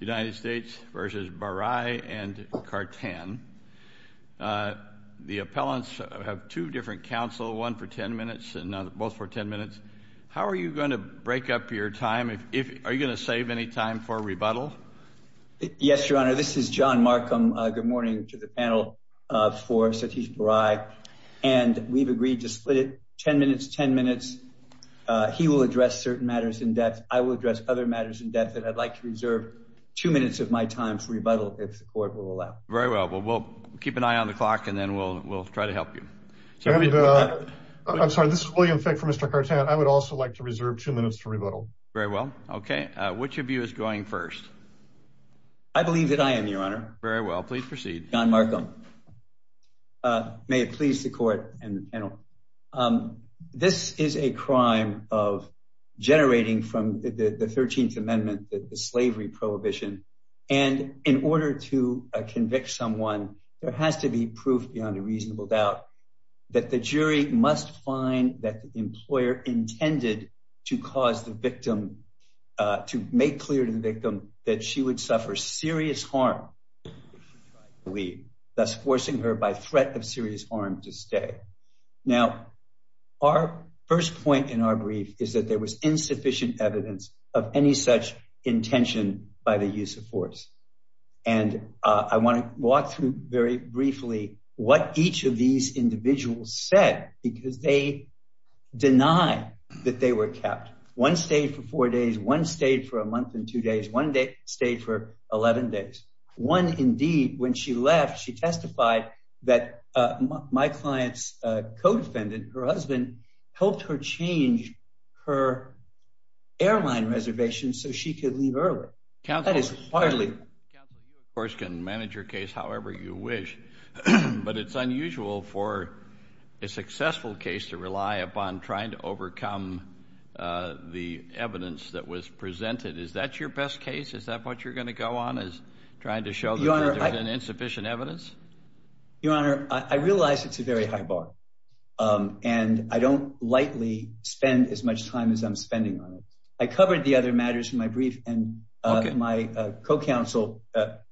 United States v. Barai and Khartan. The appellants have two different counsel, one for 10 minutes and both for 10 minutes. How are you going to break up your time? If are you going to save any time for rebuttal? Yes, Your Honor, this is John Markham. Good morning to the panel for Satish Barai. And we've agreed to split 10 minutes, 10 minutes, he will address certain matters in depth, I will address other matters in depth that I'd like to reserve two minutes of my time for rebuttal, if the court will allow. Very well, but we'll keep an eye on the clock. And then we'll try to help you. I'm sorry, this is William Fick for Mr. Khartan. I would also like to reserve two minutes for rebuttal. Very well. Okay. Which of you is going first? I believe that I am, Your Honor. Very well, please proceed. John Markham. May it please the court and the panel. This is a case of a victim of a slavery prohibition. And in order to convict someone, there has to be proof beyond a reasonable doubt that the jury must find that the employer intended to cause the victim, to make clear to the victim that she would suffer serious harm, thus forcing her by threat of serious harm to stay. Now, our first point in our brief is that there was intention by the use of force. And I want to walk through very briefly what each of these individuals said, because they deny that they were kept. One stayed for four days, one stayed for a month and two days, one stayed for 11 days. One indeed, when she left, she testified that my client's co-defendant, her husband, helped her change her airline reservation so she could leave early. That is hardly... Counsel, you of course can manage your case however you wish. But it's unusual for a successful case to rely upon trying to overcome the evidence that was presented. Is that your best case? Is that what you're going to go on, is trying to show that there's insufficient evidence? Your Honor, I realize it's a very high bar. And I don't lightly spend as much time as I'm spending on it. I covered the other matters in my brief and my co-counsel,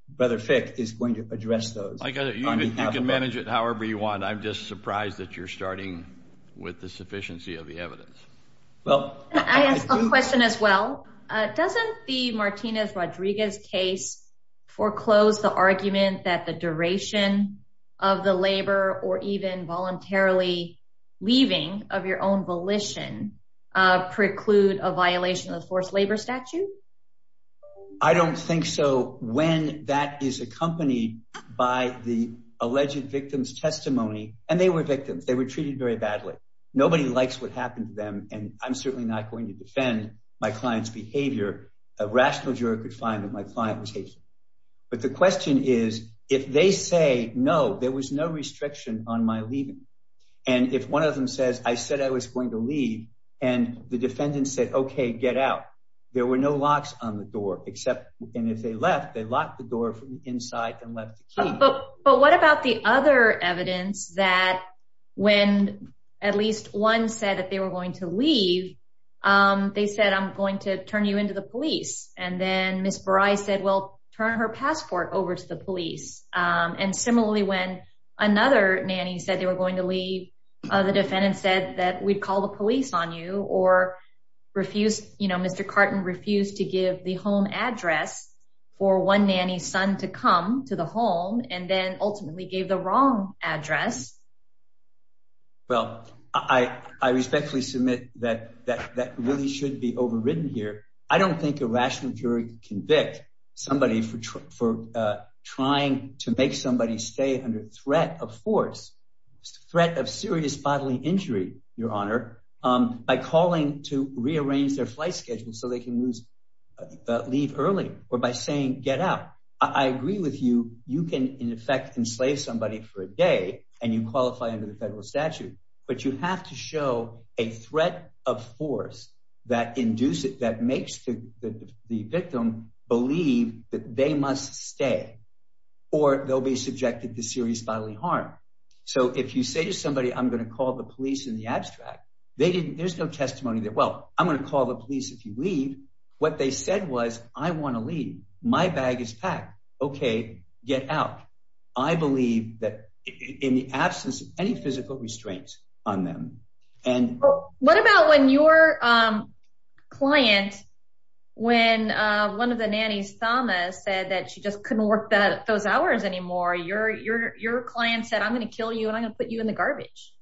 Brother Fick, is going to address those. I got it. You can manage it however you want. I'm just surprised that you're starting with the sufficiency of the evidence. Well, I have a question as well. Doesn't the Martinez-Rodriguez case foreclose the argument that the duration of the labor or even voluntarily leaving of your own volition preclude a violation of the forced labor statute? I don't think so. When that is accompanied by the alleged victim's testimony, and they were victims, they were treated very badly. Nobody likes what happened to them. And I'm certainly not going to defend my client's behavior. A rational juror could find that my client was hateful. But the question is, if they say no, there was no restriction on my leaving. And if one of them says, I said I was going to leave, and the there were no locks on the door, and if they left, they locked the door from inside and left the key. But what about the other evidence that when at least one said that they were going to leave, they said, I'm going to turn you into the police. And then Ms. Barai said, well, turn her passport over to the police. And similarly, when another nanny said they were going to leave, the defendant said that we'd call the police on you or refuse, you know, Mr. Carton refused to give the home address for one nanny's son to come to the home and then ultimately gave the wrong address. Well, I respectfully submit that that really should be overridden here. I don't think a rational jury can convict somebody for trying to make somebody stay under threat of force, threat of serious bodily injury, Your Honor, by calling to rearrange their flight schedule so they can lose, leave early or by saying get out. I agree with you, you can in effect enslave somebody for a day, and you qualify under the federal statute. But you have to show a threat of force that induce it that makes the victim believe that they must stay, or they'll be subjected to serious bodily harm. So if you say to somebody I'm going to call the police in the abstract, they didn't there's no testimony that well, I'm going to call the police if you leave. What they said was, I want to leave my bag is packed. Okay, get out. I believe that in the absence of any physical restraints on them. And what about when your client, when one of the nannies Thomas said that she just couldn't work that those hours anymore, your your your client said, I'm going to kill you. And I'm gonna put you in the garbage.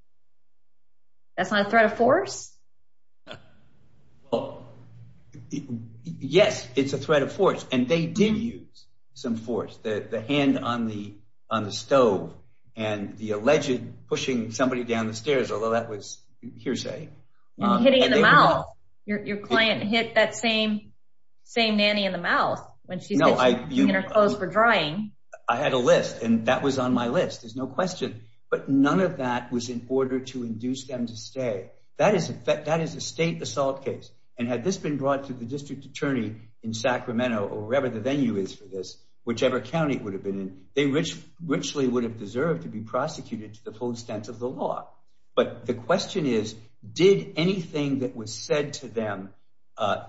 That's not a threat of force. Yes, it's a threat of force. And they did use some force that the hand on the on the stove, and the alleged pushing somebody down the stairs, although that was hearsay, your client hit that same, same nanny in the mouth when she's no, I close for drying. I had a list and that was on my list. There's no question. But none of that was in order to induce them to stay. That is a fact that is a state assault case. And had this been brought to the district attorney in Sacramento or wherever the venue is for this, whichever county would have been in, they rich richly would have deserved to be prosecuted to the full extent of the law. But the question is, did anything that was said to them,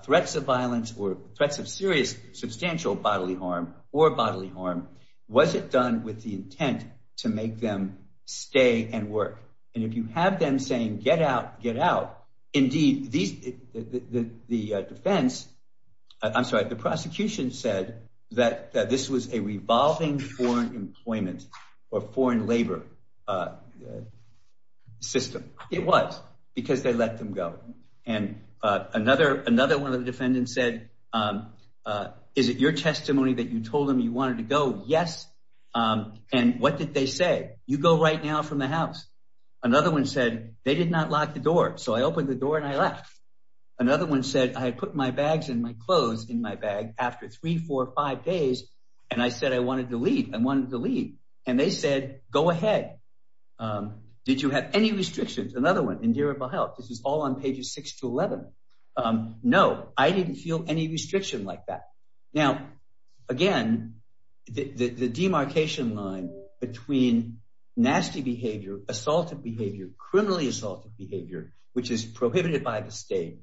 threats of violence or threats of serious substantial bodily harm or bodily harm? Was it done with the intent to make them stay and work? And if you have them saying get out, get out. Indeed, these the defense, I'm sorry, the prosecution said that this was a revolving foreign employment, or foreign labor system. It was because they let them go. And another another one of the defendants said, Is it your testimony that you told them you wanted to go? Yes. And what did they say? You go right now from the house. Another one said they did not lock the door. So I opened the door and I left. Another one said I put my bags and my clothes in my bag after three, four or five days. And I said I wanted to leave. I wanted to leave. And they said, Go ahead. Did you have any restrictions? Another one in this is all on pages six to 11. No, I didn't feel any restriction like that. Now, again, the demarcation line between nasty behavior, assaulted behavior, criminally assaulted behavior, which is prohibited by the state.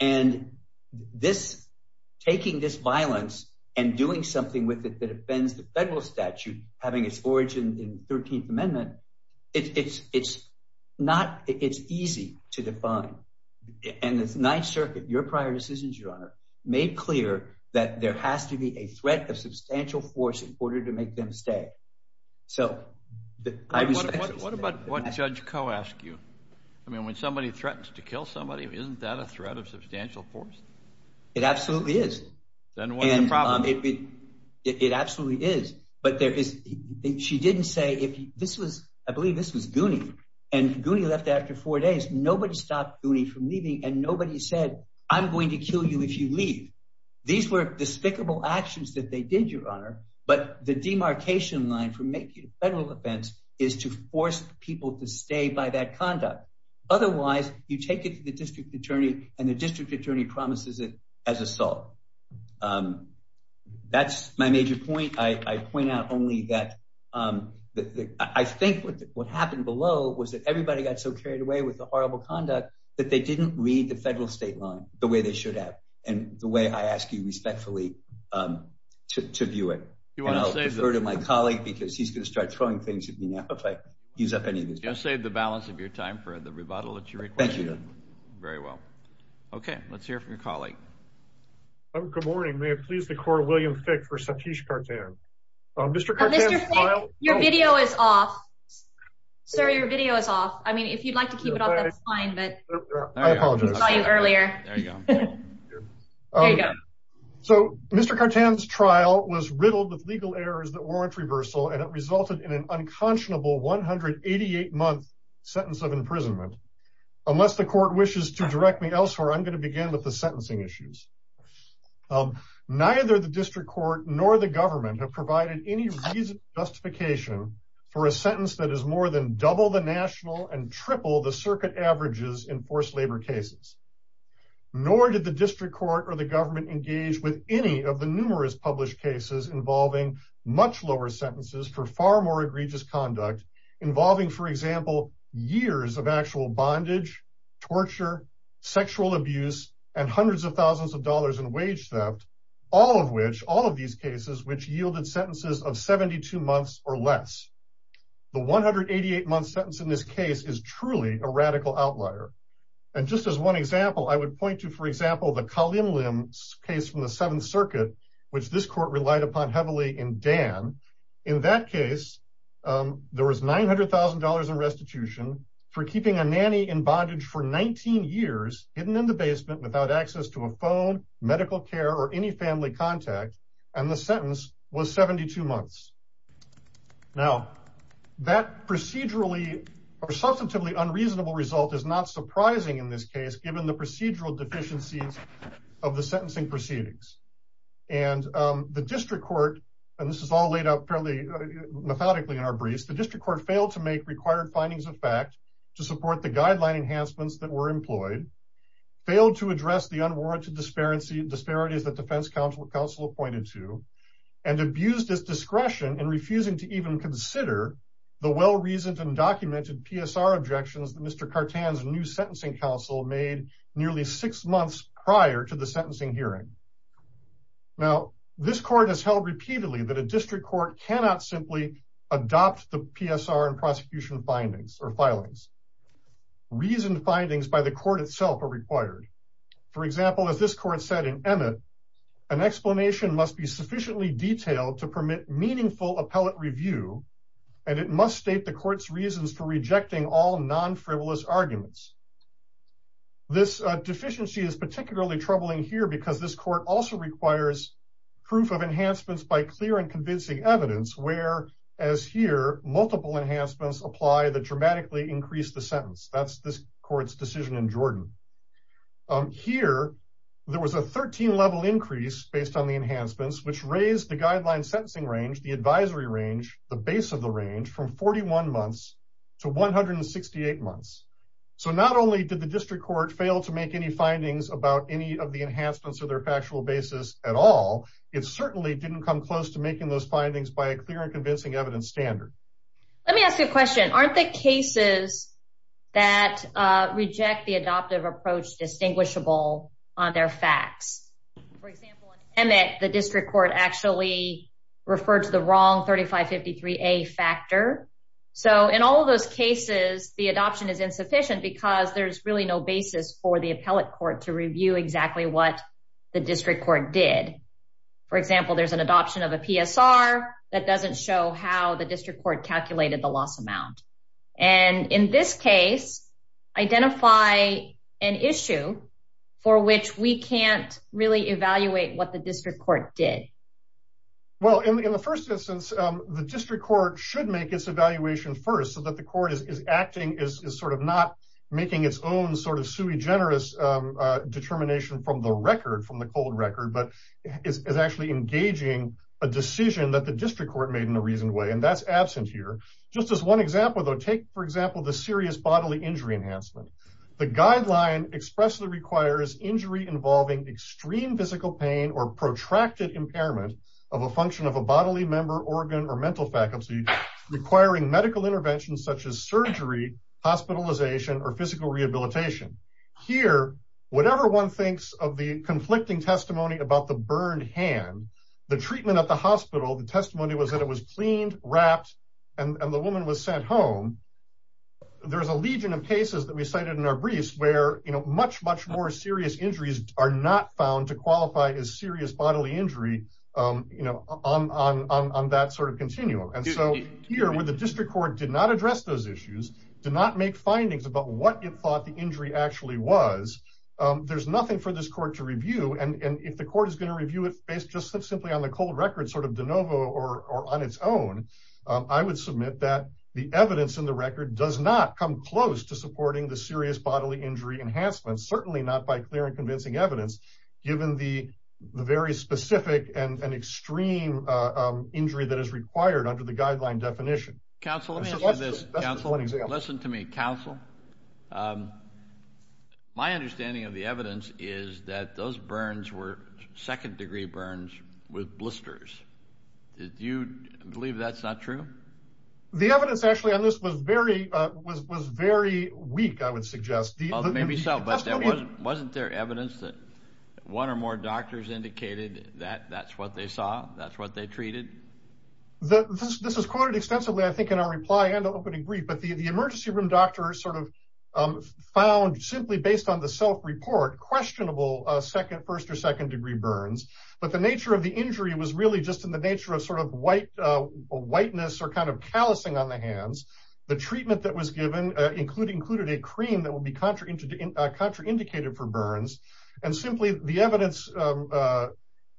And this, taking this violence and doing something with it that offends the federal statute having its origin in 13th Amendment. It's it's not it's easy to define. And it's Ninth Circuit, your prior decisions, your honor, made clear that there has to be a threat of substantial force in order to make them stay. So what about what Judge Coe asked you? I mean, when somebody threatens to kill somebody, isn't that a threat of substantial force? It absolutely is. Then what's the problem? It absolutely is. But there is. She didn't say if this was I believe this was Gooney. And Gooney left after four days, nobody stopped Gooney from leaving. And nobody said, I'm going to kill you if you leave. These were despicable actions that they did, your honor. But the demarcation line for making a federal offense is to force people to stay by that conduct. Otherwise, you take it to the district attorney, and the district attorney promises it as assault. That's my major point. I point out only that. I think what happened below was that everybody got so carried away with the horrible conduct that they didn't read the federal state line the way they should have. And the way I ask you respectfully, to view it, you want to say to my colleague, because he's going to start throwing things at me now. If I use up any of this, just save the balance of your time for the rebuttal that you require. Very well. Okay, let's hear from your colleague. Oh, good morning. May it please the court William Fick for sir, your video is off. I mean, if you'd like to keep it up, that's fine. But earlier, so Mr. curtains trial was riddled with legal errors that warrant reversal and it resulted in an unconscionable 188 month sentence of imprisonment. Unless the court wishes to direct me elsewhere, I'm going to begin with the sentencing issues. Neither the district court nor the government have provided any justification for a sentence that is more than double the national and triple the circuit averages in forced labor cases. Nor did the district court or the government engage with any of the numerous published cases involving much lower sentences for far more egregious conduct, involving, for example, years of actual bondage, torture, sexual abuse, and hundreds of 1000s of dollars in wage theft, all of which all of these cases which 72 months or less. The 188 months sentence in this case is truly a radical outlier. And just as one example, I would point to, for example, the column limbs case from the seventh circuit, which this court relied upon heavily in Dan. In that case, there was $900,000 in restitution for keeping a nanny in bondage for 19 years hidden in the basement without access to a phone, medical care or any family contact. And the sentence was 72 months. Now, that procedurally, or substantively unreasonable result is not surprising in this case, given the procedural deficiencies of the sentencing proceedings. And the district court, and this is all laid out fairly methodically in our briefs, the district court failed to make required findings of fact to support the guideline enhancements that were employed, failed to address the counsel appointed to and abused his discretion and refusing to even consider the well reasoned and documented PSR objections that Mr. cartons new sentencing counsel made nearly six months prior to the sentencing hearing. Now, this court has held repeatedly that a district court cannot simply adopt the PSR and prosecution findings or filings. reasoned findings by the court itself are required. For example, as this court said in an explanation must be sufficiently detailed to permit meaningful appellate review. And it must state the court's reasons for rejecting all non frivolous arguments. This deficiency is particularly troubling here because this court also requires proof of enhancements by clear and convincing evidence where as here multiple enhancements apply the dramatically increase the sentence that's this court's in Jordan. Here, there was a 13 level increase based on the enhancements which raised the guideline sentencing range, the advisory range, the base of the range from 41 months to 168 months. So not only did the district court fail to make any findings about any of the enhancements or their factual basis at all, it certainly didn't come close to making those findings by a clear and convincing evidence standard. Let me ask you a question, aren't the cases that reject the adoptive approach distinguishable on their facts, for example, and that the district court actually referred to the wrong 3553 a factor. So in all of those cases, the adoption is insufficient because there's really no basis for the appellate court to review exactly what the district court did. For example, there's an adoption of a PSR that doesn't show how the district court calculated the loss amount. And in this case, identify an issue for which we can't really evaluate what the district court did. Well, in the first instance, the district court should make its evaluation first so that the court is acting is sort of not making its own sort of sui generis determination from the record from the cold record, but is actually engaging a decision that the district court made in a reasonable way. And that's absent here. Just as one example, though, take, for example, the serious bodily injury enhancement. The guideline expressly requires injury involving extreme physical pain or protracted impairment of a function of a bodily member organ or mental faculty requiring medical interventions such as surgery, hospitalization or physical rehabilitation. Here, whatever one thinks of the conflicting testimony about the burned hand, the treatment at the hospital the testimony was that it was cleaned, wrapped, and the woman was sent home. There's a legion of cases that we cited in our briefs where, you know, much, much more serious injuries are not found to qualify as serious bodily injury, you know, on that sort of continuum. And so here with the district court did not address those issues, did not make findings about what it thought the injury actually was. There's nothing for this court to review. And if the court is going to review it based just simply on the cold record sort of de novo or on its own, I would submit that the evidence in the record does not come close to supporting the serious bodily injury enhancement, certainly not by clear and convincing evidence, given the very specific and extreme injury that is required under the guideline definition. Counselor, listen to me, counsel. My understanding of the evidence is that those burns were second degree burns with blisters. Do you believe that's not true? The evidence actually on this was very, was very weak, I would suggest. Maybe so, but wasn't there evidence that one or more doctors indicated that that's what they saw? That's what they treated? This is quoted extensively, I think, in our reply and opening brief, but the emergency room doctor sort of found simply based on the self report questionable second first or second degree burns. But the nature of the injury was really just in the nature of sort of white, whiteness or kind of callusing on the hands. The treatment that was given including included a cream that will be contraindicated for burns. And simply the evidence.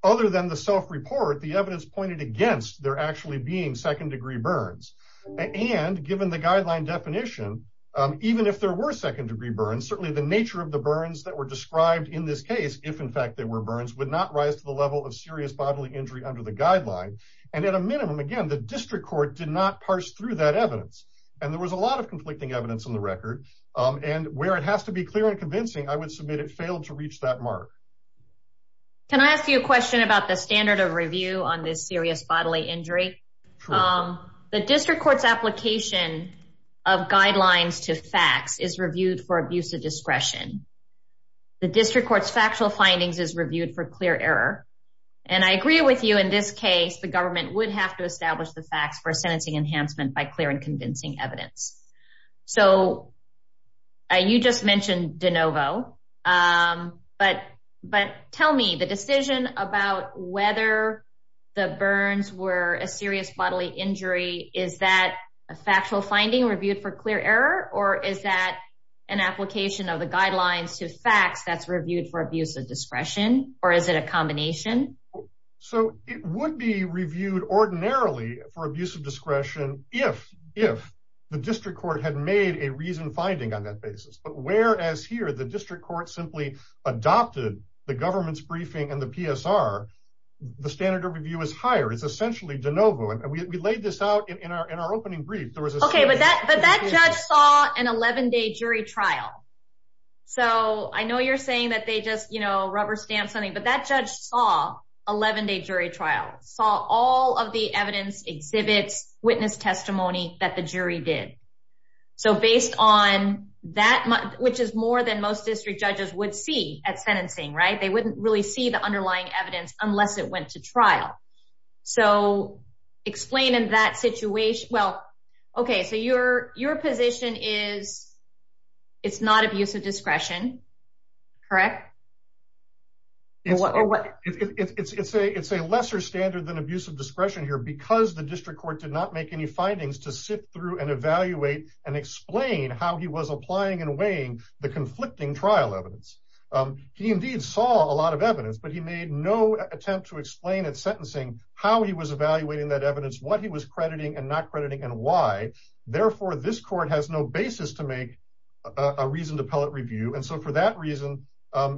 Other than the self report, the evidence pointed against they're actually being second degree burns. And given the guideline definition, even if there were second degree burns, certainly the nature of the burns that were described in this case, if in fact they were burns would not rise to the level of serious bodily injury under the guideline. And at a minimum, again, the district court did not parse through that evidence. And there was a lot of conflicting evidence on the record. And where it has to be clear and convincing, I would submit it failed to reach that mark. Can I ask you a question about the standard of review on this serious bodily injury? The district court's application of facts is reviewed for abuse of discretion. The district court's factual findings is reviewed for clear error. And I agree with you in this case, the government would have to establish the facts for sentencing enhancement by clear and convincing evidence. So you just mentioned de novo. But But tell me the decision about whether the burns were a serious bodily injury. Is that a factual finding reviewed for clear error? Or is that an application of the guidelines to facts that's reviewed for abuse of discretion? Or is it a combination? So it would be reviewed ordinarily for abuse of discretion, if if the district court had made a reason finding on that basis, but whereas here, the district court simply adopted the government's briefing and the PSR, the standard of review is higher, it's essentially de novo. And we laid this out in our in our opening brief, there was okay, but that but that judge saw an 11 day jury trial. So I know you're saying that they just, you know, rubber stamp something, but that judge saw 11 day jury trial saw all of the evidence exhibits witness testimony that the jury did. So based on that, which is more than most district judges would see at sentencing, right, they wouldn't really see the underlying evidence unless it went to trial. So explain in that situation. Well, okay, so your your position is, it's not abuse of discretion. Correct. What it's a it's a lesser standard than abuse of discretion here, because the district court did not make any findings to sit through and evaluate and explain how he was applying and weighing the conflicting trial evidence. He indeed saw a lot of evidence, but he made no attempt to explain it sentencing, how he was evaluating that evidence, what he was crediting and not crediting and why. Therefore, this court has no basis to make a reason to pellet review. And so for that reason,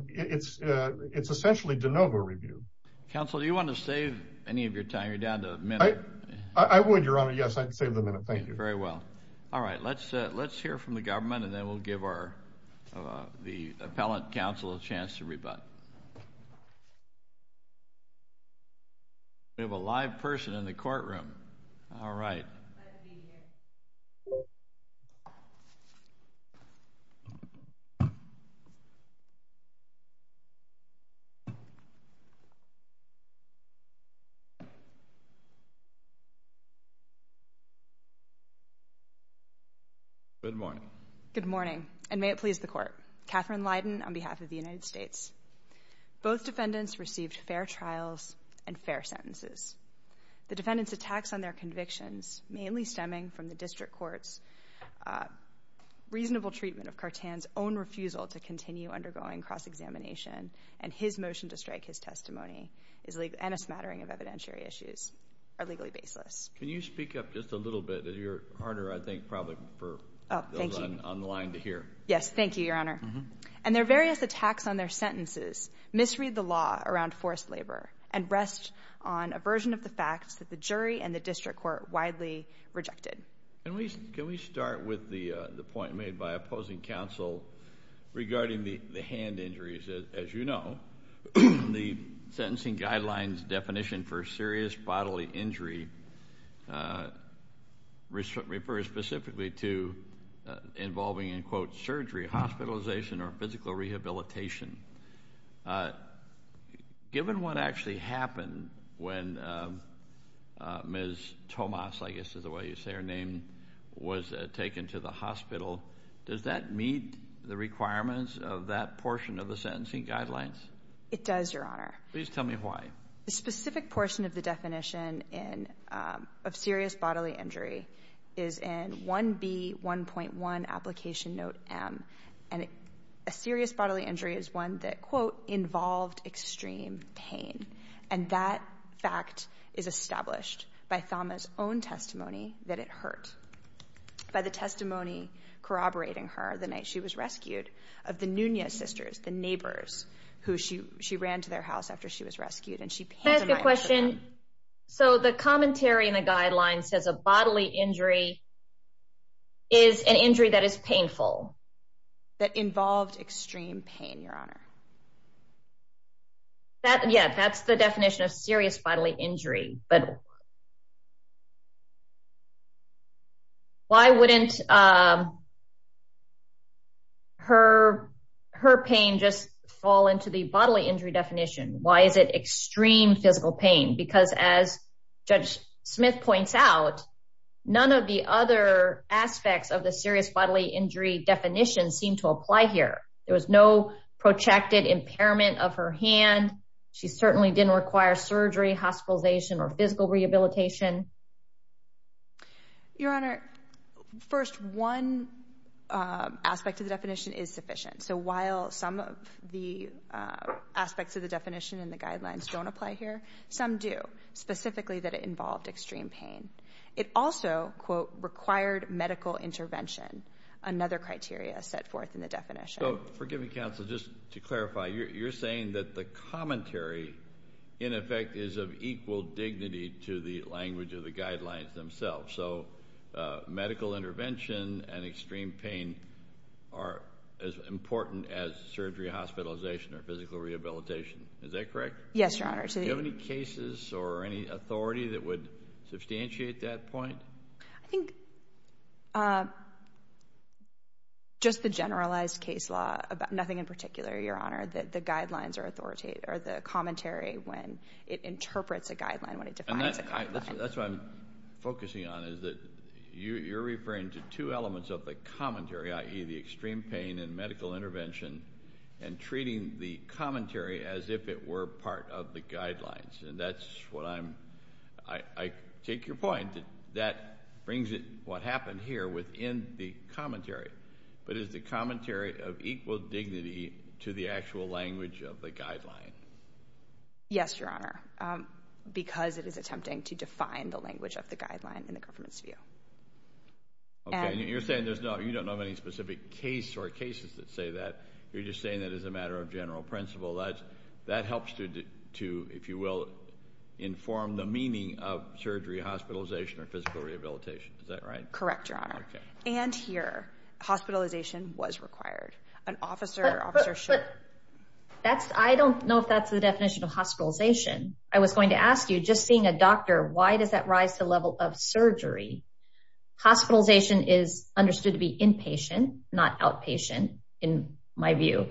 it's, it's essentially de novo review. Council, do you want to save any of your time? You're down to a minute? I would your honor. Yes, I'd save the minute. Thank you very well. All right, let's let's hear from the government. And then we'll give our the appellant counsel a chance to rebut. We have a live person in the courtroom. All right. Good morning. Good morning. And may it please the court. Catherine Lydon on behalf of the United States. Both defendants received fair trials and fair sentences. The defendants attacks on their convictions, mainly stemming from the district courts. Reasonable treatment of Cartan's own refusal to continue undergoing cross examination and his motion to strike his testimony is legal and a smattering of evidentiary issues are legally baseless. Can you speak up just a little bit of your partner? I think probably for online to hear. Yes. Thank you, Your Honor. And their various attacks on their sentences misread the law around forced labor and rest on a version of the facts that the jury and the district court widely rejected. And we can we start with the point made by opposing counsel regarding the hand injuries? As you know, the sentencing guidelines definition for serious bodily injury, uh, involving in, quote, surgery, hospitalization or physical rehabilitation. Uh, given what actually happened when, um, uh, Ms Tomas, I guess is the way you say her name was taken to the hospital. Does that meet the requirements of that portion of the sentencing guidelines? It does, Your Honor. Please tell me why the specific portion of the definition in, um, of serious bodily injury is in one B 1.1 application note. Um, and a serious bodily injury is one that, quote, involved extreme pain. And that fact is established by Thomas own testimony that it hurt by the testimony corroborating her the night she was rescued of the Nunez sisters, the neighbors who she she ran to their house after she was rescued. And she asked question. So the commentary in the guidelines says a bodily injury is an injury that is painful. That involved extreme pain, Your Honor. That Yeah, that's the definition of serious bodily injury. But why wouldn't, uh, her her pain just fall into the bodily injury definition? Why is it extreme physical pain? Because as Judge Smith points out, none of the other aspects of the serious bodily injury definition seemed to apply here. There was no projected impairment of her hand. She certainly didn't require surgery, hospitalization or physical rehabilitation. Your Honor. First, one aspect of the definition is sufficient. So guidelines don't apply here. Some do, specifically that it involved extreme pain. It also, quote, required medical intervention. Another criteria set forth in the definition. So forgive me, counsel, just to clarify, you're saying that the commentary in effect is of equal dignity to the language of the guidelines themselves. So medical intervention and extreme pain are as important as surgery, hospitalization or physical rehabilitation. Is that correct? Yes, Your Honor. Do you have any cases or any authority that would substantiate that point? I think, uh, just the generalized case law about nothing in particular, Your Honor, that the guidelines are authoritative or the commentary when it interprets a guideline, when it defines a guideline. That's what I'm focusing on, is that you're referring to two elements of the commentary, i.e. the extreme pain and medical intervention and treating the commentary as if it were part of the guidelines. And that's what I'm, I take your point that that brings it, what happened here within the commentary. But is the commentary of equal dignity to the actual language of the guideline? Yes, Your Honor, because it is attempting to define the language of the guideline in the government's view. And you're saying there's no, you don't know of any specific case or cases that say that. You're just saying that as a matter of general principle, that, that helps to, to, if you will, inform the meaning of surgery, hospitalization or physical rehabilitation. Is that right? Correct, Your Honor. And here, hospitalization was required. An officer, officer should... But, but, but that's, I don't know if that's the definition of hospitalization. I was going to ask you, just seeing a doctor, why does that rise to the level of surgery? Hospitalization is understood to be inpatient, not outpatient, in my view,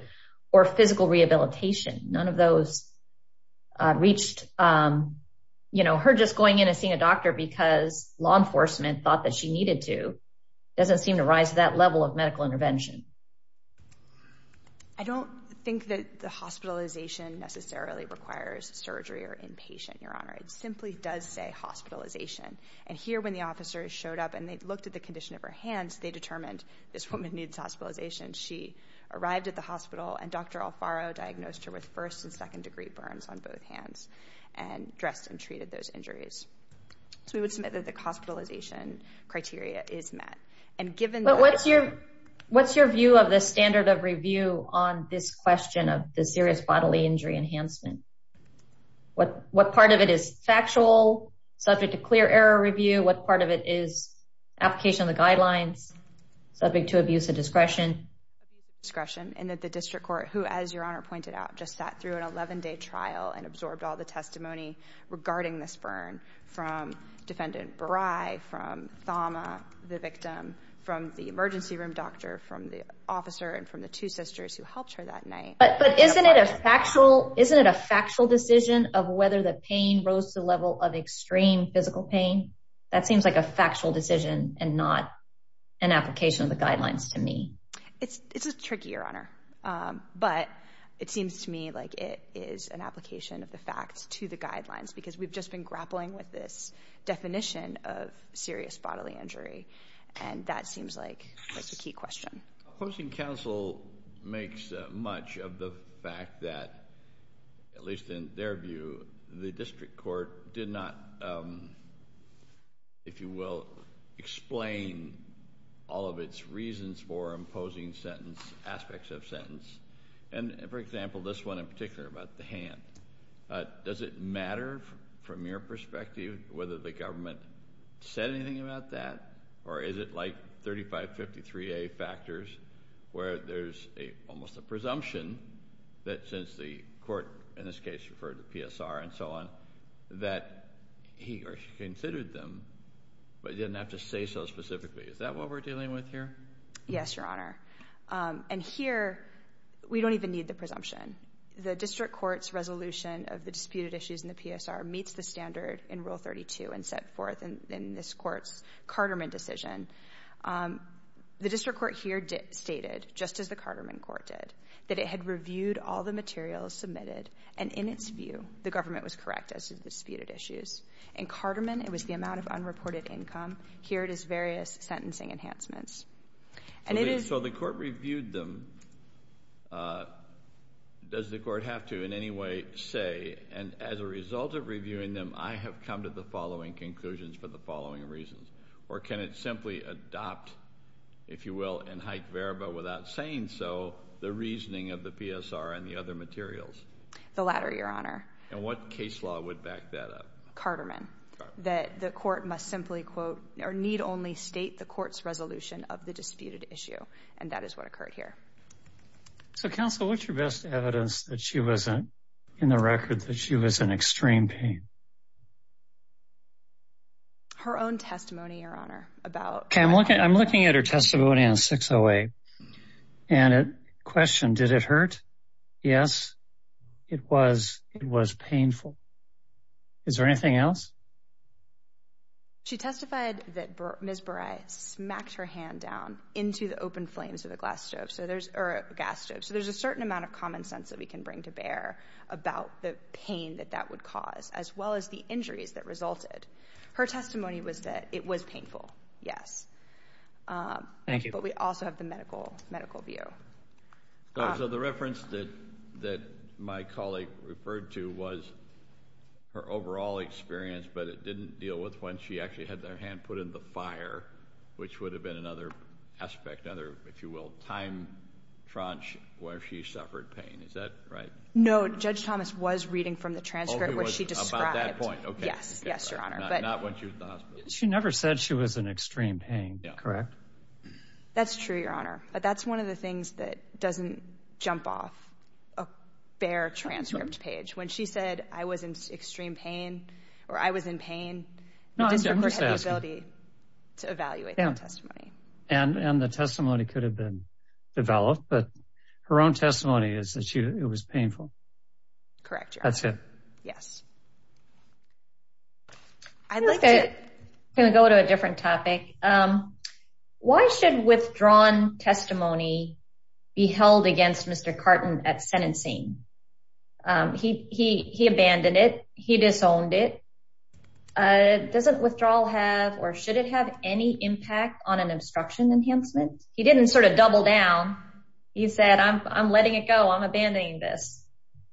or physical rehabilitation. None of those reached, you know, her just going in and seeing a doctor because law enforcement thought that she needed to, doesn't seem to rise to that level of medical intervention. I don't think that the hospitalization necessarily requires surgery or inpatient, Your Honor. It simply does say hospitalization. And here when the officer showed up and they looked at the condition of her hands, they determined this woman needs hospitalization. She arrived at the hospital and Dr. Alfaro diagnosed her with first and second degree burns on both hands and dressed and treated those injuries. So we would submit that the hospitalization criteria is met. And given that... But what's your, what's your view of the standard of review on this question of the serious bodily injury enhancement? What, what part of it is factual, subject to clear error review? What part of it is application of the guidelines, subject to abuse of discretion? Abuse of discretion, and that the district court, who, as Your Honor pointed out, just sat through an 11-day trial and absorbed all the testimony regarding this burn from Defendant Brey, from Thoma, the victim, from the emergency room doctor, from the officer, and from the two sisters who helped her that night. But, but isn't it a factual, isn't it a factual decision of whether the pain rose to the level of extreme physical pain? That seems like a factual decision and not an application of the guidelines to me. It's, it's a tricky, Your Honor. But it seems to me like it is an application of the facts to the guidelines, because we've just been grappling with this definition of serious bodily injury. And that seems like, like the key question. Opposing counsel makes much of the fact that, at least in their view, the district court did not, if you will, explain all of its reasons for imposing sentence, aspects of sentence. And for example, this one in particular about the hand, does it matter from your perspective whether the government said anything about that, or is it like 3553A factors, where there's a, almost a presumption that since the court, in this case, referred to PSR and so on, that he or she considered them, but didn't have to say so specifically. Is that what we're dealing with here? Yes, Your Honor. And here we don't even need the presumption. The district court's resolution of the disputed issues in the PSR meets the standard in rule 32 and set forth in this court's Carterman decision. The district court here stated, just as the Carterman court did, that it had reviewed all the materials submitted, and in its view, the government was correct as to the disputed issues. In Carterman, it was the amount of unreported income. Here it is various sentencing enhancements. And it is- So the court reviewed them. Does the court have to in any way say, and as a result of reviewing them, I have come to the following conclusions for the following reasons, or can it simply adopt, if you will, in haec verba, without saying so, the reasoning of the PSR and the other materials? The latter, Your Honor. And what case law would back that up? Carterman. That the court must simply quote, or need only state the court's resolution of the disputed issue. And that is what occurred here. So counsel, what's your best evidence that she wasn't in the record, that she was in extreme pain? Her own testimony, Your Honor, about- Okay, I'm looking at her testimony on 608. And a question, did it hurt? Yes, it was. It was painful. Is there anything else? She testified that Ms. Buray smacked her hand down into the open flames of a glass stove, or a gas stove. So there's a certain amount of common sense that we can bring to bear about the pain that that would cause, as well as the injuries that resulted. Her testimony was that it was painful. Yes. Thank you. But we also have the medical view. So the reference that my colleague referred to was her overall experience, but it didn't deal with when she actually had their hand put in the fire, which would have been another aspect, another, if you will, time tranche where she suffered pain. Is that right? No, Judge Thomas was reading from the transcript, which she described. About that point. Okay. Yes. Yes, Your Honor. But- Not when she was in the hospital. She never said she was in extreme pain, correct? That's true, Your Honor. But that's one of the things that doesn't jump off a bare transcript page. When she said, I was in extreme pain, or I was in pain, the district had the ability to evaluate that testimony. And the testimony could have been developed, but her own testimony is that it was painful. Correct, Your Honor. That's it. Yes. I'd like to go to a different topic. Why should withdrawn testimony be held against Mr. Carton at sentencing? He abandoned it. He disowned it. Doesn't withdrawal have, or should it have any impact on an obstruction enhancement? He didn't sort of double down. He said, I'm letting it go. I'm abandoning this.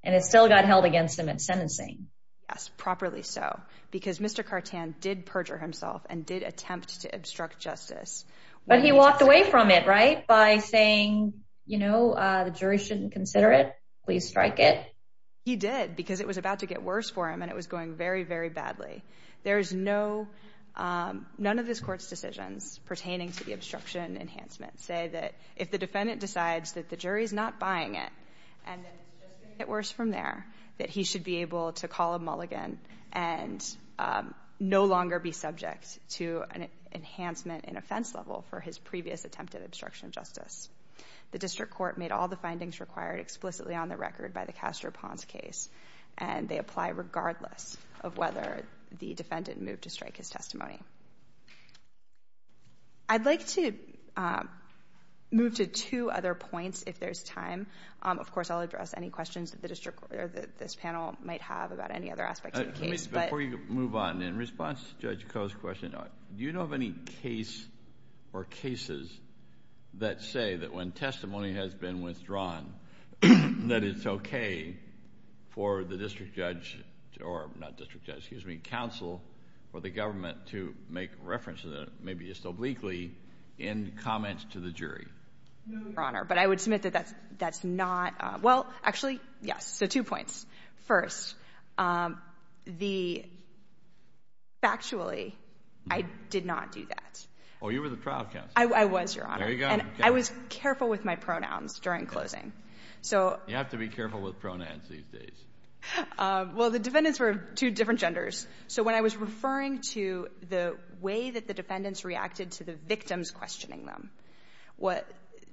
And it still got held against him at sentencing. Yes, properly. So because Mr. Carton did perjure himself and did attempt to obstruct justice, but he walked away from it, right, by saying, you know, the jury shouldn't consider it. Please strike it. He did because it was about to get worse for him, and it was going very, very badly. There is no, none of this court's decisions pertaining to the obstruction enhancement say that if the defendant decides that the jury is not buying it and it's just going to get worse from there, that he should be able to call a mulligan and no longer be subject to an enhancement in offense level for his previous attempt at obstruction of justice. The district court made all the findings required explicitly on the record by the Castro-Pons case. And they apply regardless of whether the defendant moved to strike his testimony. I'd like to move to two other points if there's time, of this panel might have about any other aspects of the case. But before you move on, in response to Judge Coe's question, do you know of any case or cases that say that when testimony has been withdrawn, that it's okay for the district judge or not district judge, excuse me, counsel or the government to make references, maybe just obliquely, in comments to the jury? No, Your Honor. But I would submit that that's not, well, actually, yes. So two points. First, the, factually, I did not do that. Oh, you were the trial counsel. I was, Your Honor. There you go. And I was careful with my pronouns during closing. So. You have to be careful with pronouns these days. Well, the defendants were two different genders. So when I was referring to the way that the defendants reacted to the victims questioning them,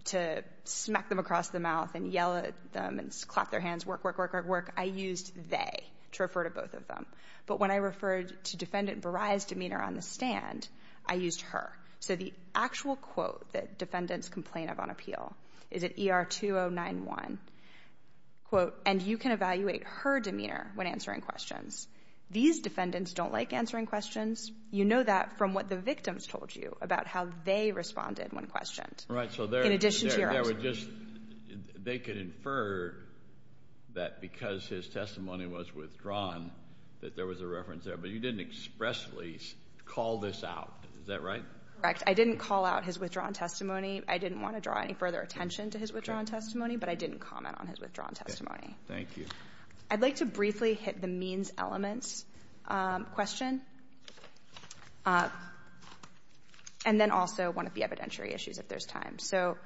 to smack them across the mouth and yell at them and clap their hands, work, work, work, work, work, I used they to refer to both of them, but when I referred to defendant Burai's demeanor on the stand, I used her. So the actual quote that defendants complain of on appeal is at ER 2091, quote, and you can evaluate her demeanor when answering questions. These defendants don't like answering questions. You know that from what the victims told you about how they responded when questioned. Right. So they're in addition to they were just they could infer that because his testimony was withdrawn, that there was a reference there. But you didn't expressly call this out. Is that right? Correct. I didn't call out his withdrawn testimony. I didn't want to draw any further attention to his withdrawn testimony, but I didn't comment on his withdrawn testimony. Thank you. I'd like to briefly hit the means elements question. And then also one of the evidentiary issues, if there's time. So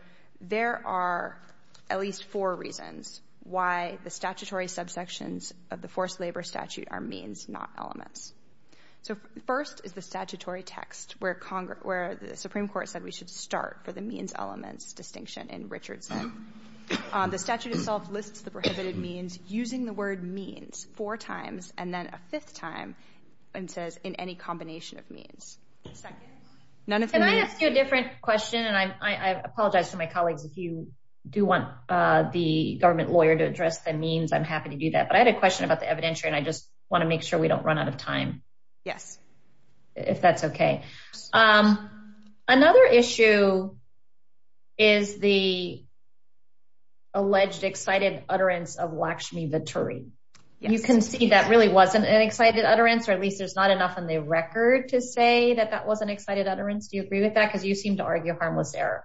there are at least four reasons why the statutory subsections of the forced labor statute are means, not elements. So first is the statutory text where the Supreme Court said we should start for the means elements distinction in Richardson. The statute itself lists the prohibited means using the word means four times and then a fifth time and says in any combination of means. None of you a different question. And I apologize to my colleagues. If you do want the government lawyer to address the means, I'm happy to do that. But I had a question about the evidentiary and I just want to make sure we don't run out of time. Yes. If that's OK. Another issue. Is the. Alleged excited utterance of Lakshmi Vitturi, you can see that really wasn't an excited utterance, or at least there's not enough in the record to say that that was an excited utterance. Do you agree with that? Because you seem to argue a harmless error.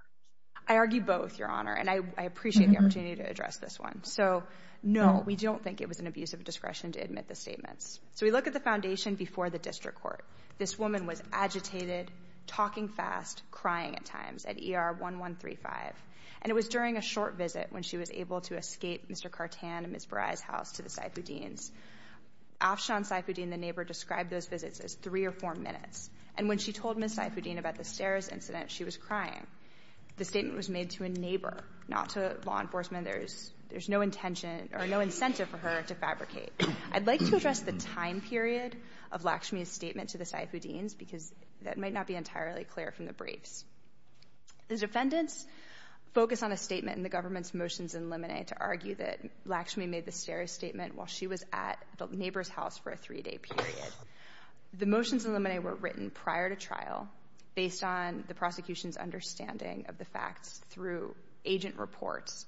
I argue both, Your Honor. And I appreciate the opportunity to address this one. So no, we don't think it was an abuse of discretion to admit the statements. So we look at the foundation before the district court. This woman was agitated, talking fast, crying at times at ER 1135. And it was during a short visit when she was able to escape Mr. Burai's house to the Saifuddin's. Afshan Saifuddin, the neighbor, described those visits as three or four minutes. And when she told Ms. Saifuddin about the stairs incident, she was crying. The statement was made to a neighbor, not to law enforcement. There's there's no intention or no incentive for her to fabricate. I'd like to address the time period of Lakshmi's statement to the Saifuddin's because that might not be entirely clear from the briefs. The defendants focus on a statement in the government's motions in limine to argue that Lakshmi made the stairs statement while she was at the neighbor's house for a three-day period. The motions in limine were written prior to trial based on the prosecution's understanding of the facts through agent reports.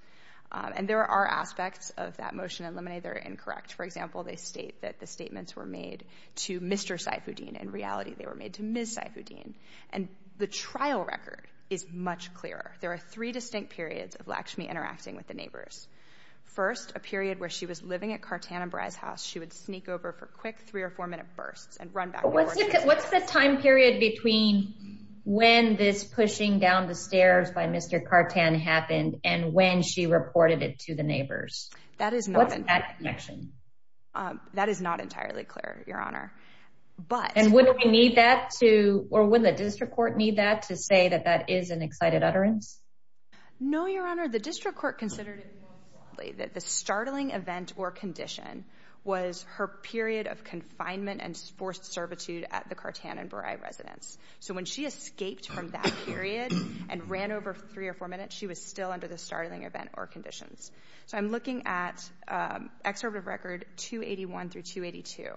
And there are aspects of that motion in limine that are incorrect. For example, they state that the statements were made to Mr. Saifuddin. In reality, they were made to Ms. Saifuddin. And the trial record is much clearer. There are three distinct periods of Lakshmi interacting with the neighbors. First, a period where she was living at Cartan and Bry's house. She would sneak over for quick three or four minute bursts and run back. What's the time period between when this pushing down the stairs by Mr. Cartan happened and when she reported it to the neighbors? That is not that connection. That is not entirely clear, Your Honor. But and when we need that to or when the district court need that to say that that is an excited utterance? No, Your Honor. The district court considered that the startling event or condition was her period of confinement and forced servitude at the Cartan and Bry residence. So when she escaped from that period and ran over three or four minutes, she was still under the startling event or conditions. So I'm looking at Excerpt of Record 281 through 282.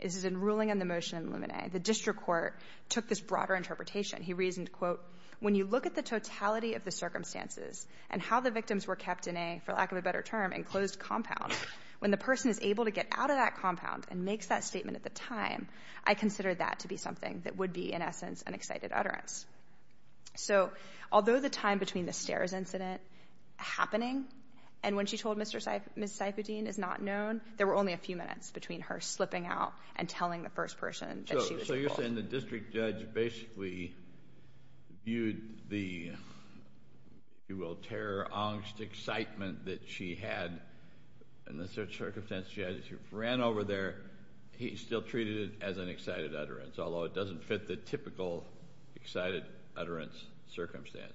This is in ruling on the motion in limine. The district court took this broader interpretation. He reasoned, quote, when you look at the totality of the circumstances and how the victims were kept in a, for lack of a better term, enclosed compound, when the person is able to get out of that compound and makes that statement at the time, I consider that to be something that would be, in essence, an excited utterance. So although the time between the stairs incident happening and when she told Mr. Seif, Ms. Seifudin is not known, there were only a few minutes between her slipping out and telling the first person. So you're saying the district judge basically viewed the, you will, terror, angst, excitement that she had and the circumstances she had as she ran over there, he still treated it as an excited utterance, although it doesn't fit the typical excited utterance circumstance.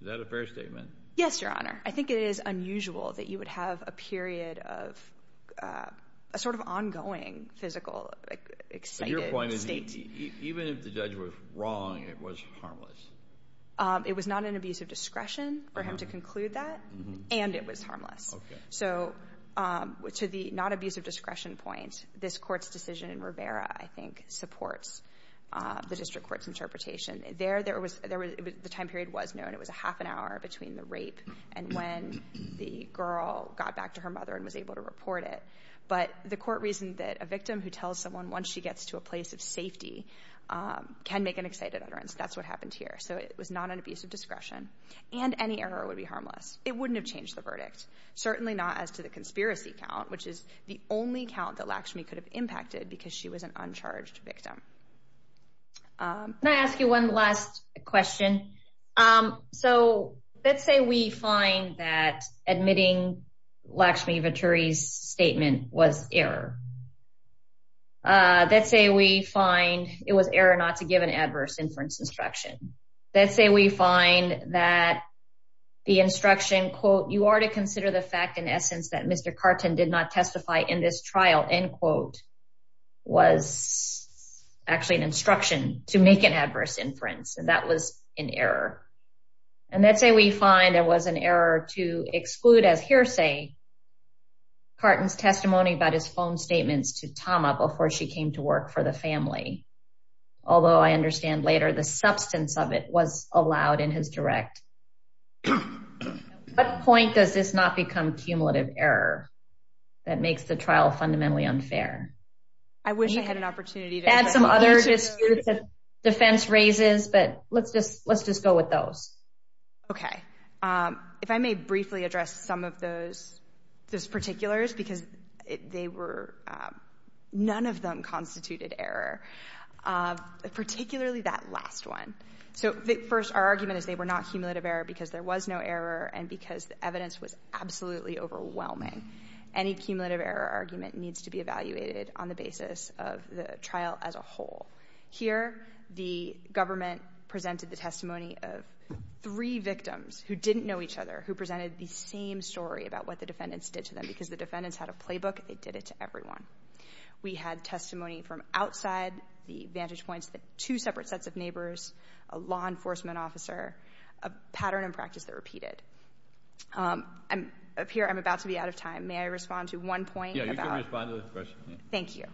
Is that a fair statement? Yes, Your Honor. I think it is unusual that you would have a period of a sort of ongoing physical excited state. Even if the judge was wrong, it was harmless. It was not an abuse of discretion for him to conclude that and it was harmless. So to the not abuse of discretion point, this court's decision in Rivera, I think, supports the district court's interpretation there. There was the time period was known. It was a half an hour between the rape and when the girl got back to her mother and was able to report it. But the court reasoned that a victim who tells someone once she gets to a place of safety can make an excited utterance. That's what happened here. So it was not an abuse of discretion and any error would be harmless. It wouldn't have changed the verdict, certainly not as to the conspiracy count, which is the only count that Lakshmi could have impacted because she was an uncharged victim. Can I ask you one last question? So let's say we find that admitting Lakshmi Vachuri's statement was error. Let's say we find it was error not to give an adverse inference instruction. Let's say we find that the instruction, quote, you are to consider the fact, in essence, that Mr. Carton did not testify in this trial, end quote, was actually an instruction to make an adverse inference. And that was an error. And let's say we find there was an error to exclude as hearsay, Carton's testimony about his phone statements to Tama before she came to work for the family. Although I understand later the substance of it was allowed in his direct. What point does this not become cumulative error that makes the trial fundamentally unfair? I wish I had an opportunity to add some other defense raises, but let's just let's just go with those. OK, if I may briefly address some of those those particulars, because they were none of them constituted error, particularly that last one. So first, our argument is they were not cumulative error because there was no error and because the evidence was absolutely overwhelming. Any cumulative error argument needs to be evaluated on the basis of the trial as a whole. Here, the government presented the testimony of three victims who didn't know each other, who presented the same story about what the defendants did to them, because the defendants had a playbook. They did it to everyone. We had testimony from outside the vantage points that two separate sets of neighbors, a law enforcement officer, a pattern and practice that repeated. I'm up here. I'm about to be out of time. May I respond to one point? Yeah, you can respond to the question. Thank you.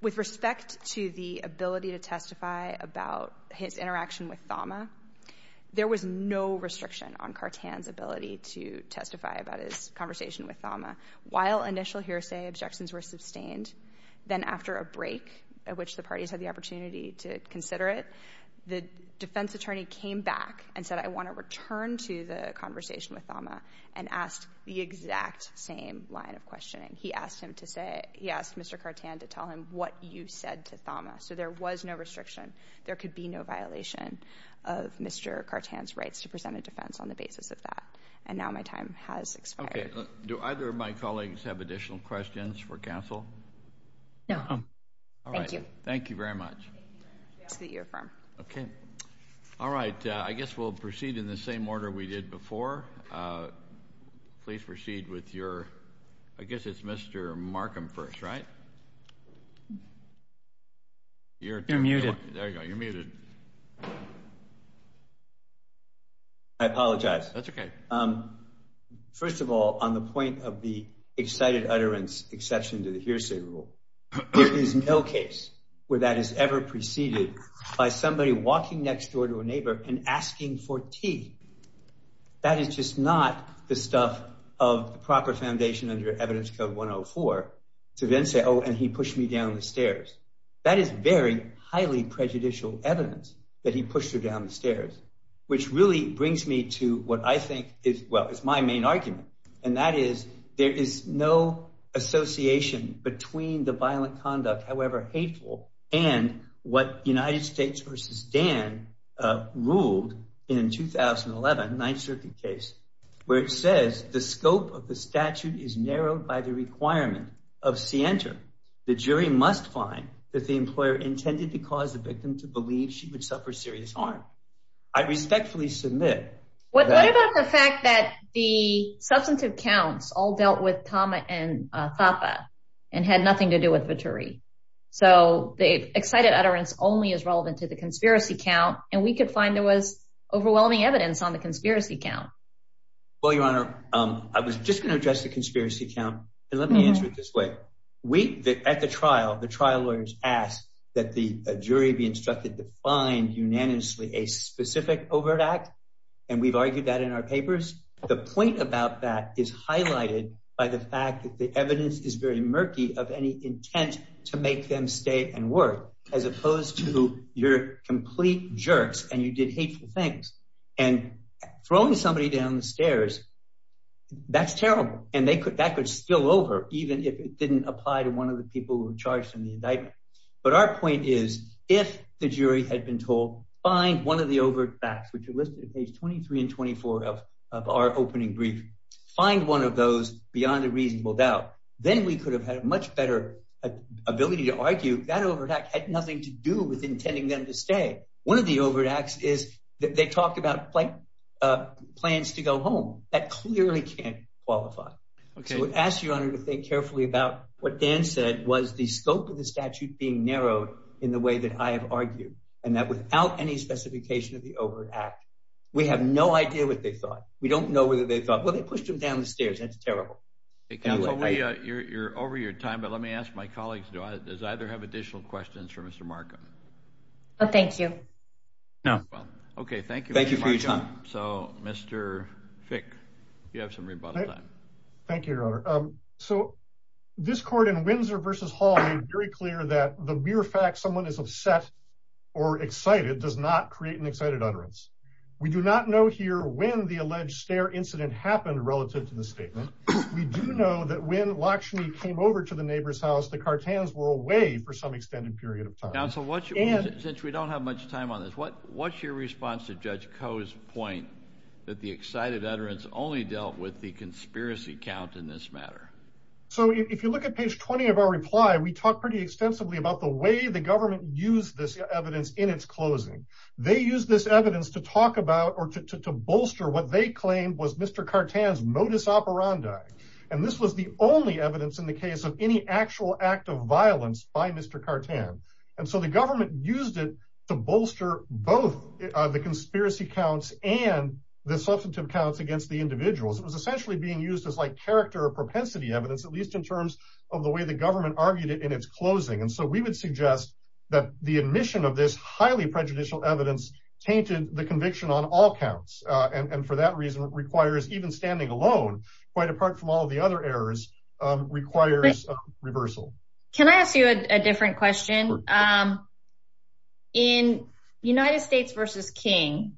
With respect to the ability to testify about his interaction with Thama, there was no restriction on Cartan's ability to testify about his conversation with Thama. While initial hearsay objections were sustained, then after a break at which the I want to return to the conversation with Thama and ask the exact same line of questioning. He asked him to say, he asked Mr. Cartan to tell him what you said to Thama. So there was no restriction. There could be no violation of Mr. Cartan's rights to present a defense on the basis of that. And now my time has expired. Do either of my colleagues have additional questions for counsel? No. All right. Thank you. Thank you very much. So that you affirm. Okay. All right. I guess we'll proceed in the same order we did before. Please proceed with your, I guess it's Mr. Markham first, right? You're muted. There you go. You're muted. I apologize. That's okay. First of all, on the point of the excited utterance exception to the hearsay rule, there is no case where that has ever preceded by somebody walking next door to a woman and asking for tea. That is just not the stuff of the proper foundation under evidence code 104 to then say, oh, and he pushed me down the stairs. That is very highly prejudicial evidence that he pushed her down the stairs, which really brings me to what I think is, well, is my main argument. And that is, there is no association between the violent conduct, however there is a case that I hold in 2011 ninth circuit case where it says the scope of the statute is narrowed by the requirement of Center. The jury must find that the employer intended to cause the victim to believe she would suffer serious harm. I respectfully submit. What about the fact that the substantive counts all dealt with Tama and Thapa and had nothing to do with Vittori? So the excited utterance only is relevant to the conspiracy count. And we could find there was overwhelming evidence on the conspiracy count. Well, your honor, I was just going to address the conspiracy count and let me answer it this way. We at the trial, the trial lawyers asked that the jury be instructed to find unanimously a specific overt act. And we've argued that in our papers, the point about that is highlighted by the fact that the evidence is very murky of any intent to make them stay and work as opposed to your complete jerks. And you did hateful things and throwing somebody down the stairs. That's terrible. And they could, that could still over, even if it didn't apply to one of the people who were charged in the indictment. But our point is if the jury had been told, find one of the overt facts, which are listed at page 23 and 24 of our opening brief, find one of those beyond a reasonable doubt, then we could have had a much better ability to argue that overt act had nothing to do with intending them to stay. One of the overt acts is that they talk about plans to go home. That clearly can't qualify. Okay. We'll ask your honor to think carefully about what Dan said was the scope of the statute being narrowed in the way that I have argued and that without any specification of the overt act, we have no idea what they thought. We don't know whether they thought, well, they pushed him down the stairs. That's terrible. It can't be you're, you're over your time, but let me ask my colleagues. Does either have additional questions for Mr. Markham? Oh, thank you. No. Okay. Thank you. Thank you for your time. So Mr. Fick, you have some rebuttal time. Thank you, your honor. Um, so this court in Windsor versus Hall made very clear that the mere fact someone is upset or excited does not create an excited utterance. We do not know here when the alleged stair incident happened relative to the statement. We do know that when Lakshmi came over to the neighbor's house, the cartels were away for some extended period of time. Now, so what should we do since we don't have much time on this? What, what's your response to judge Coe's point that the excited utterance only dealt with the conspiracy count in this matter? So if you look at page 20 of our reply, we talk pretty extensively about the way the government used this evidence in its closing, they use this evidence to talk about, or to, to, to bolster. What they claimed was Mr. Cartan's modus operandi. And this was the only evidence in the case of any actual act of violence by Mr. Cartan. And so the government used it to bolster both the conspiracy counts and the substantive counts against the individuals. It was essentially being used as like character or propensity evidence, at least in terms of the way the government argued it in its closing. And so we would suggest that the admission of this highly prejudicial evidence tainted the conviction on all counts. And for that reason requires even standing alone, quite apart from all of the other errors requires reversal. Can I ask you a different question? In United States versus King,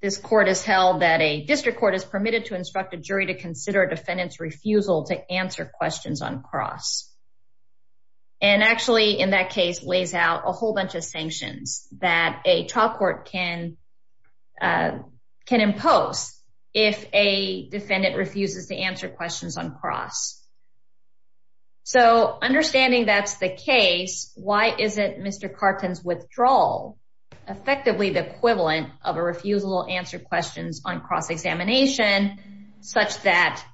this court has held that a district court is permitted to instruct a jury to consider a defendant's refusal to answer questions on cross and actually in that case lays out a whole bunch of things that a trial court can, can impose if a defendant refuses to answer questions on cross. So understanding that's the case, why isn't Mr. Cartan's withdrawal effectively the equivalent of a refusal to answer questions on cross examination such that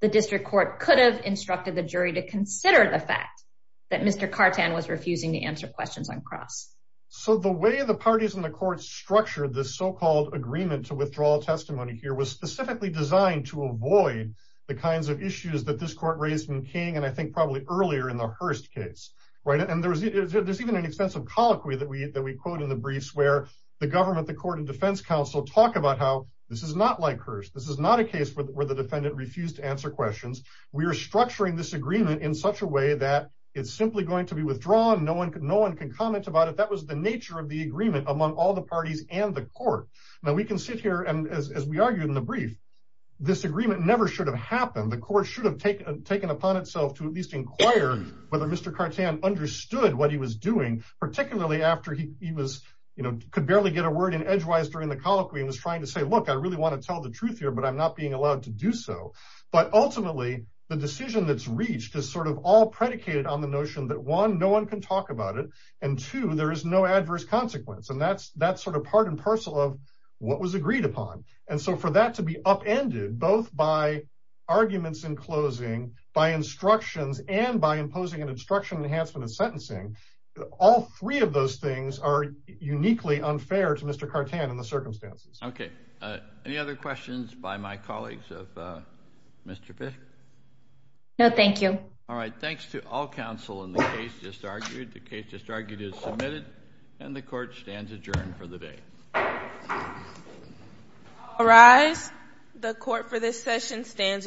the district court could have instructed the jury to consider the fact that Mr. Cartan was refusing to answer questions on cross. So the way the parties in the court structure, this so-called agreement to withdraw testimony here was specifically designed to avoid the kinds of issues that this court raised in King. And I think probably earlier in the Hearst case, right. And there was, there's even an extensive colloquy that we, that we quote in the briefs where the government, the court and defense council talk about how this is not like Hearst. This is not a case where the defendant refused to answer questions. We are structuring this agreement in such a way that it's simply going to be withdrawn. No one could, no one can comment about it. That was the nature of the agreement among all the parties and the court. Now we can sit here and as we argued in the brief, this agreement never should have happened. The court should have taken, taken upon itself to at least inquire whether Mr. Cartan understood what he was doing, particularly after he was, you know, could barely get a word in edgewise during the colloquy and was trying to say, look, I really want to tell the truth here, but I'm not being allowed to do so. But ultimately the decision that's reached is sort of all predicated on the notion that one, no one can talk about it. And two, there is no adverse consequence. And that's, that's sort of part and parcel of what was agreed upon. And so for that to be upended, both by arguments in closing by instructions and by imposing an instruction enhancement of sentencing, all three of those things are uniquely unfair to Mr. Cartan in the circumstances. Okay. Uh, any other questions by my colleagues of, uh, Mr. Bishop? No, thank you. All right. Thanks to all counsel in the case just argued. The case just argued is submitted and the court stands adjourned for the day. All rise. The court for this session stands adjourned.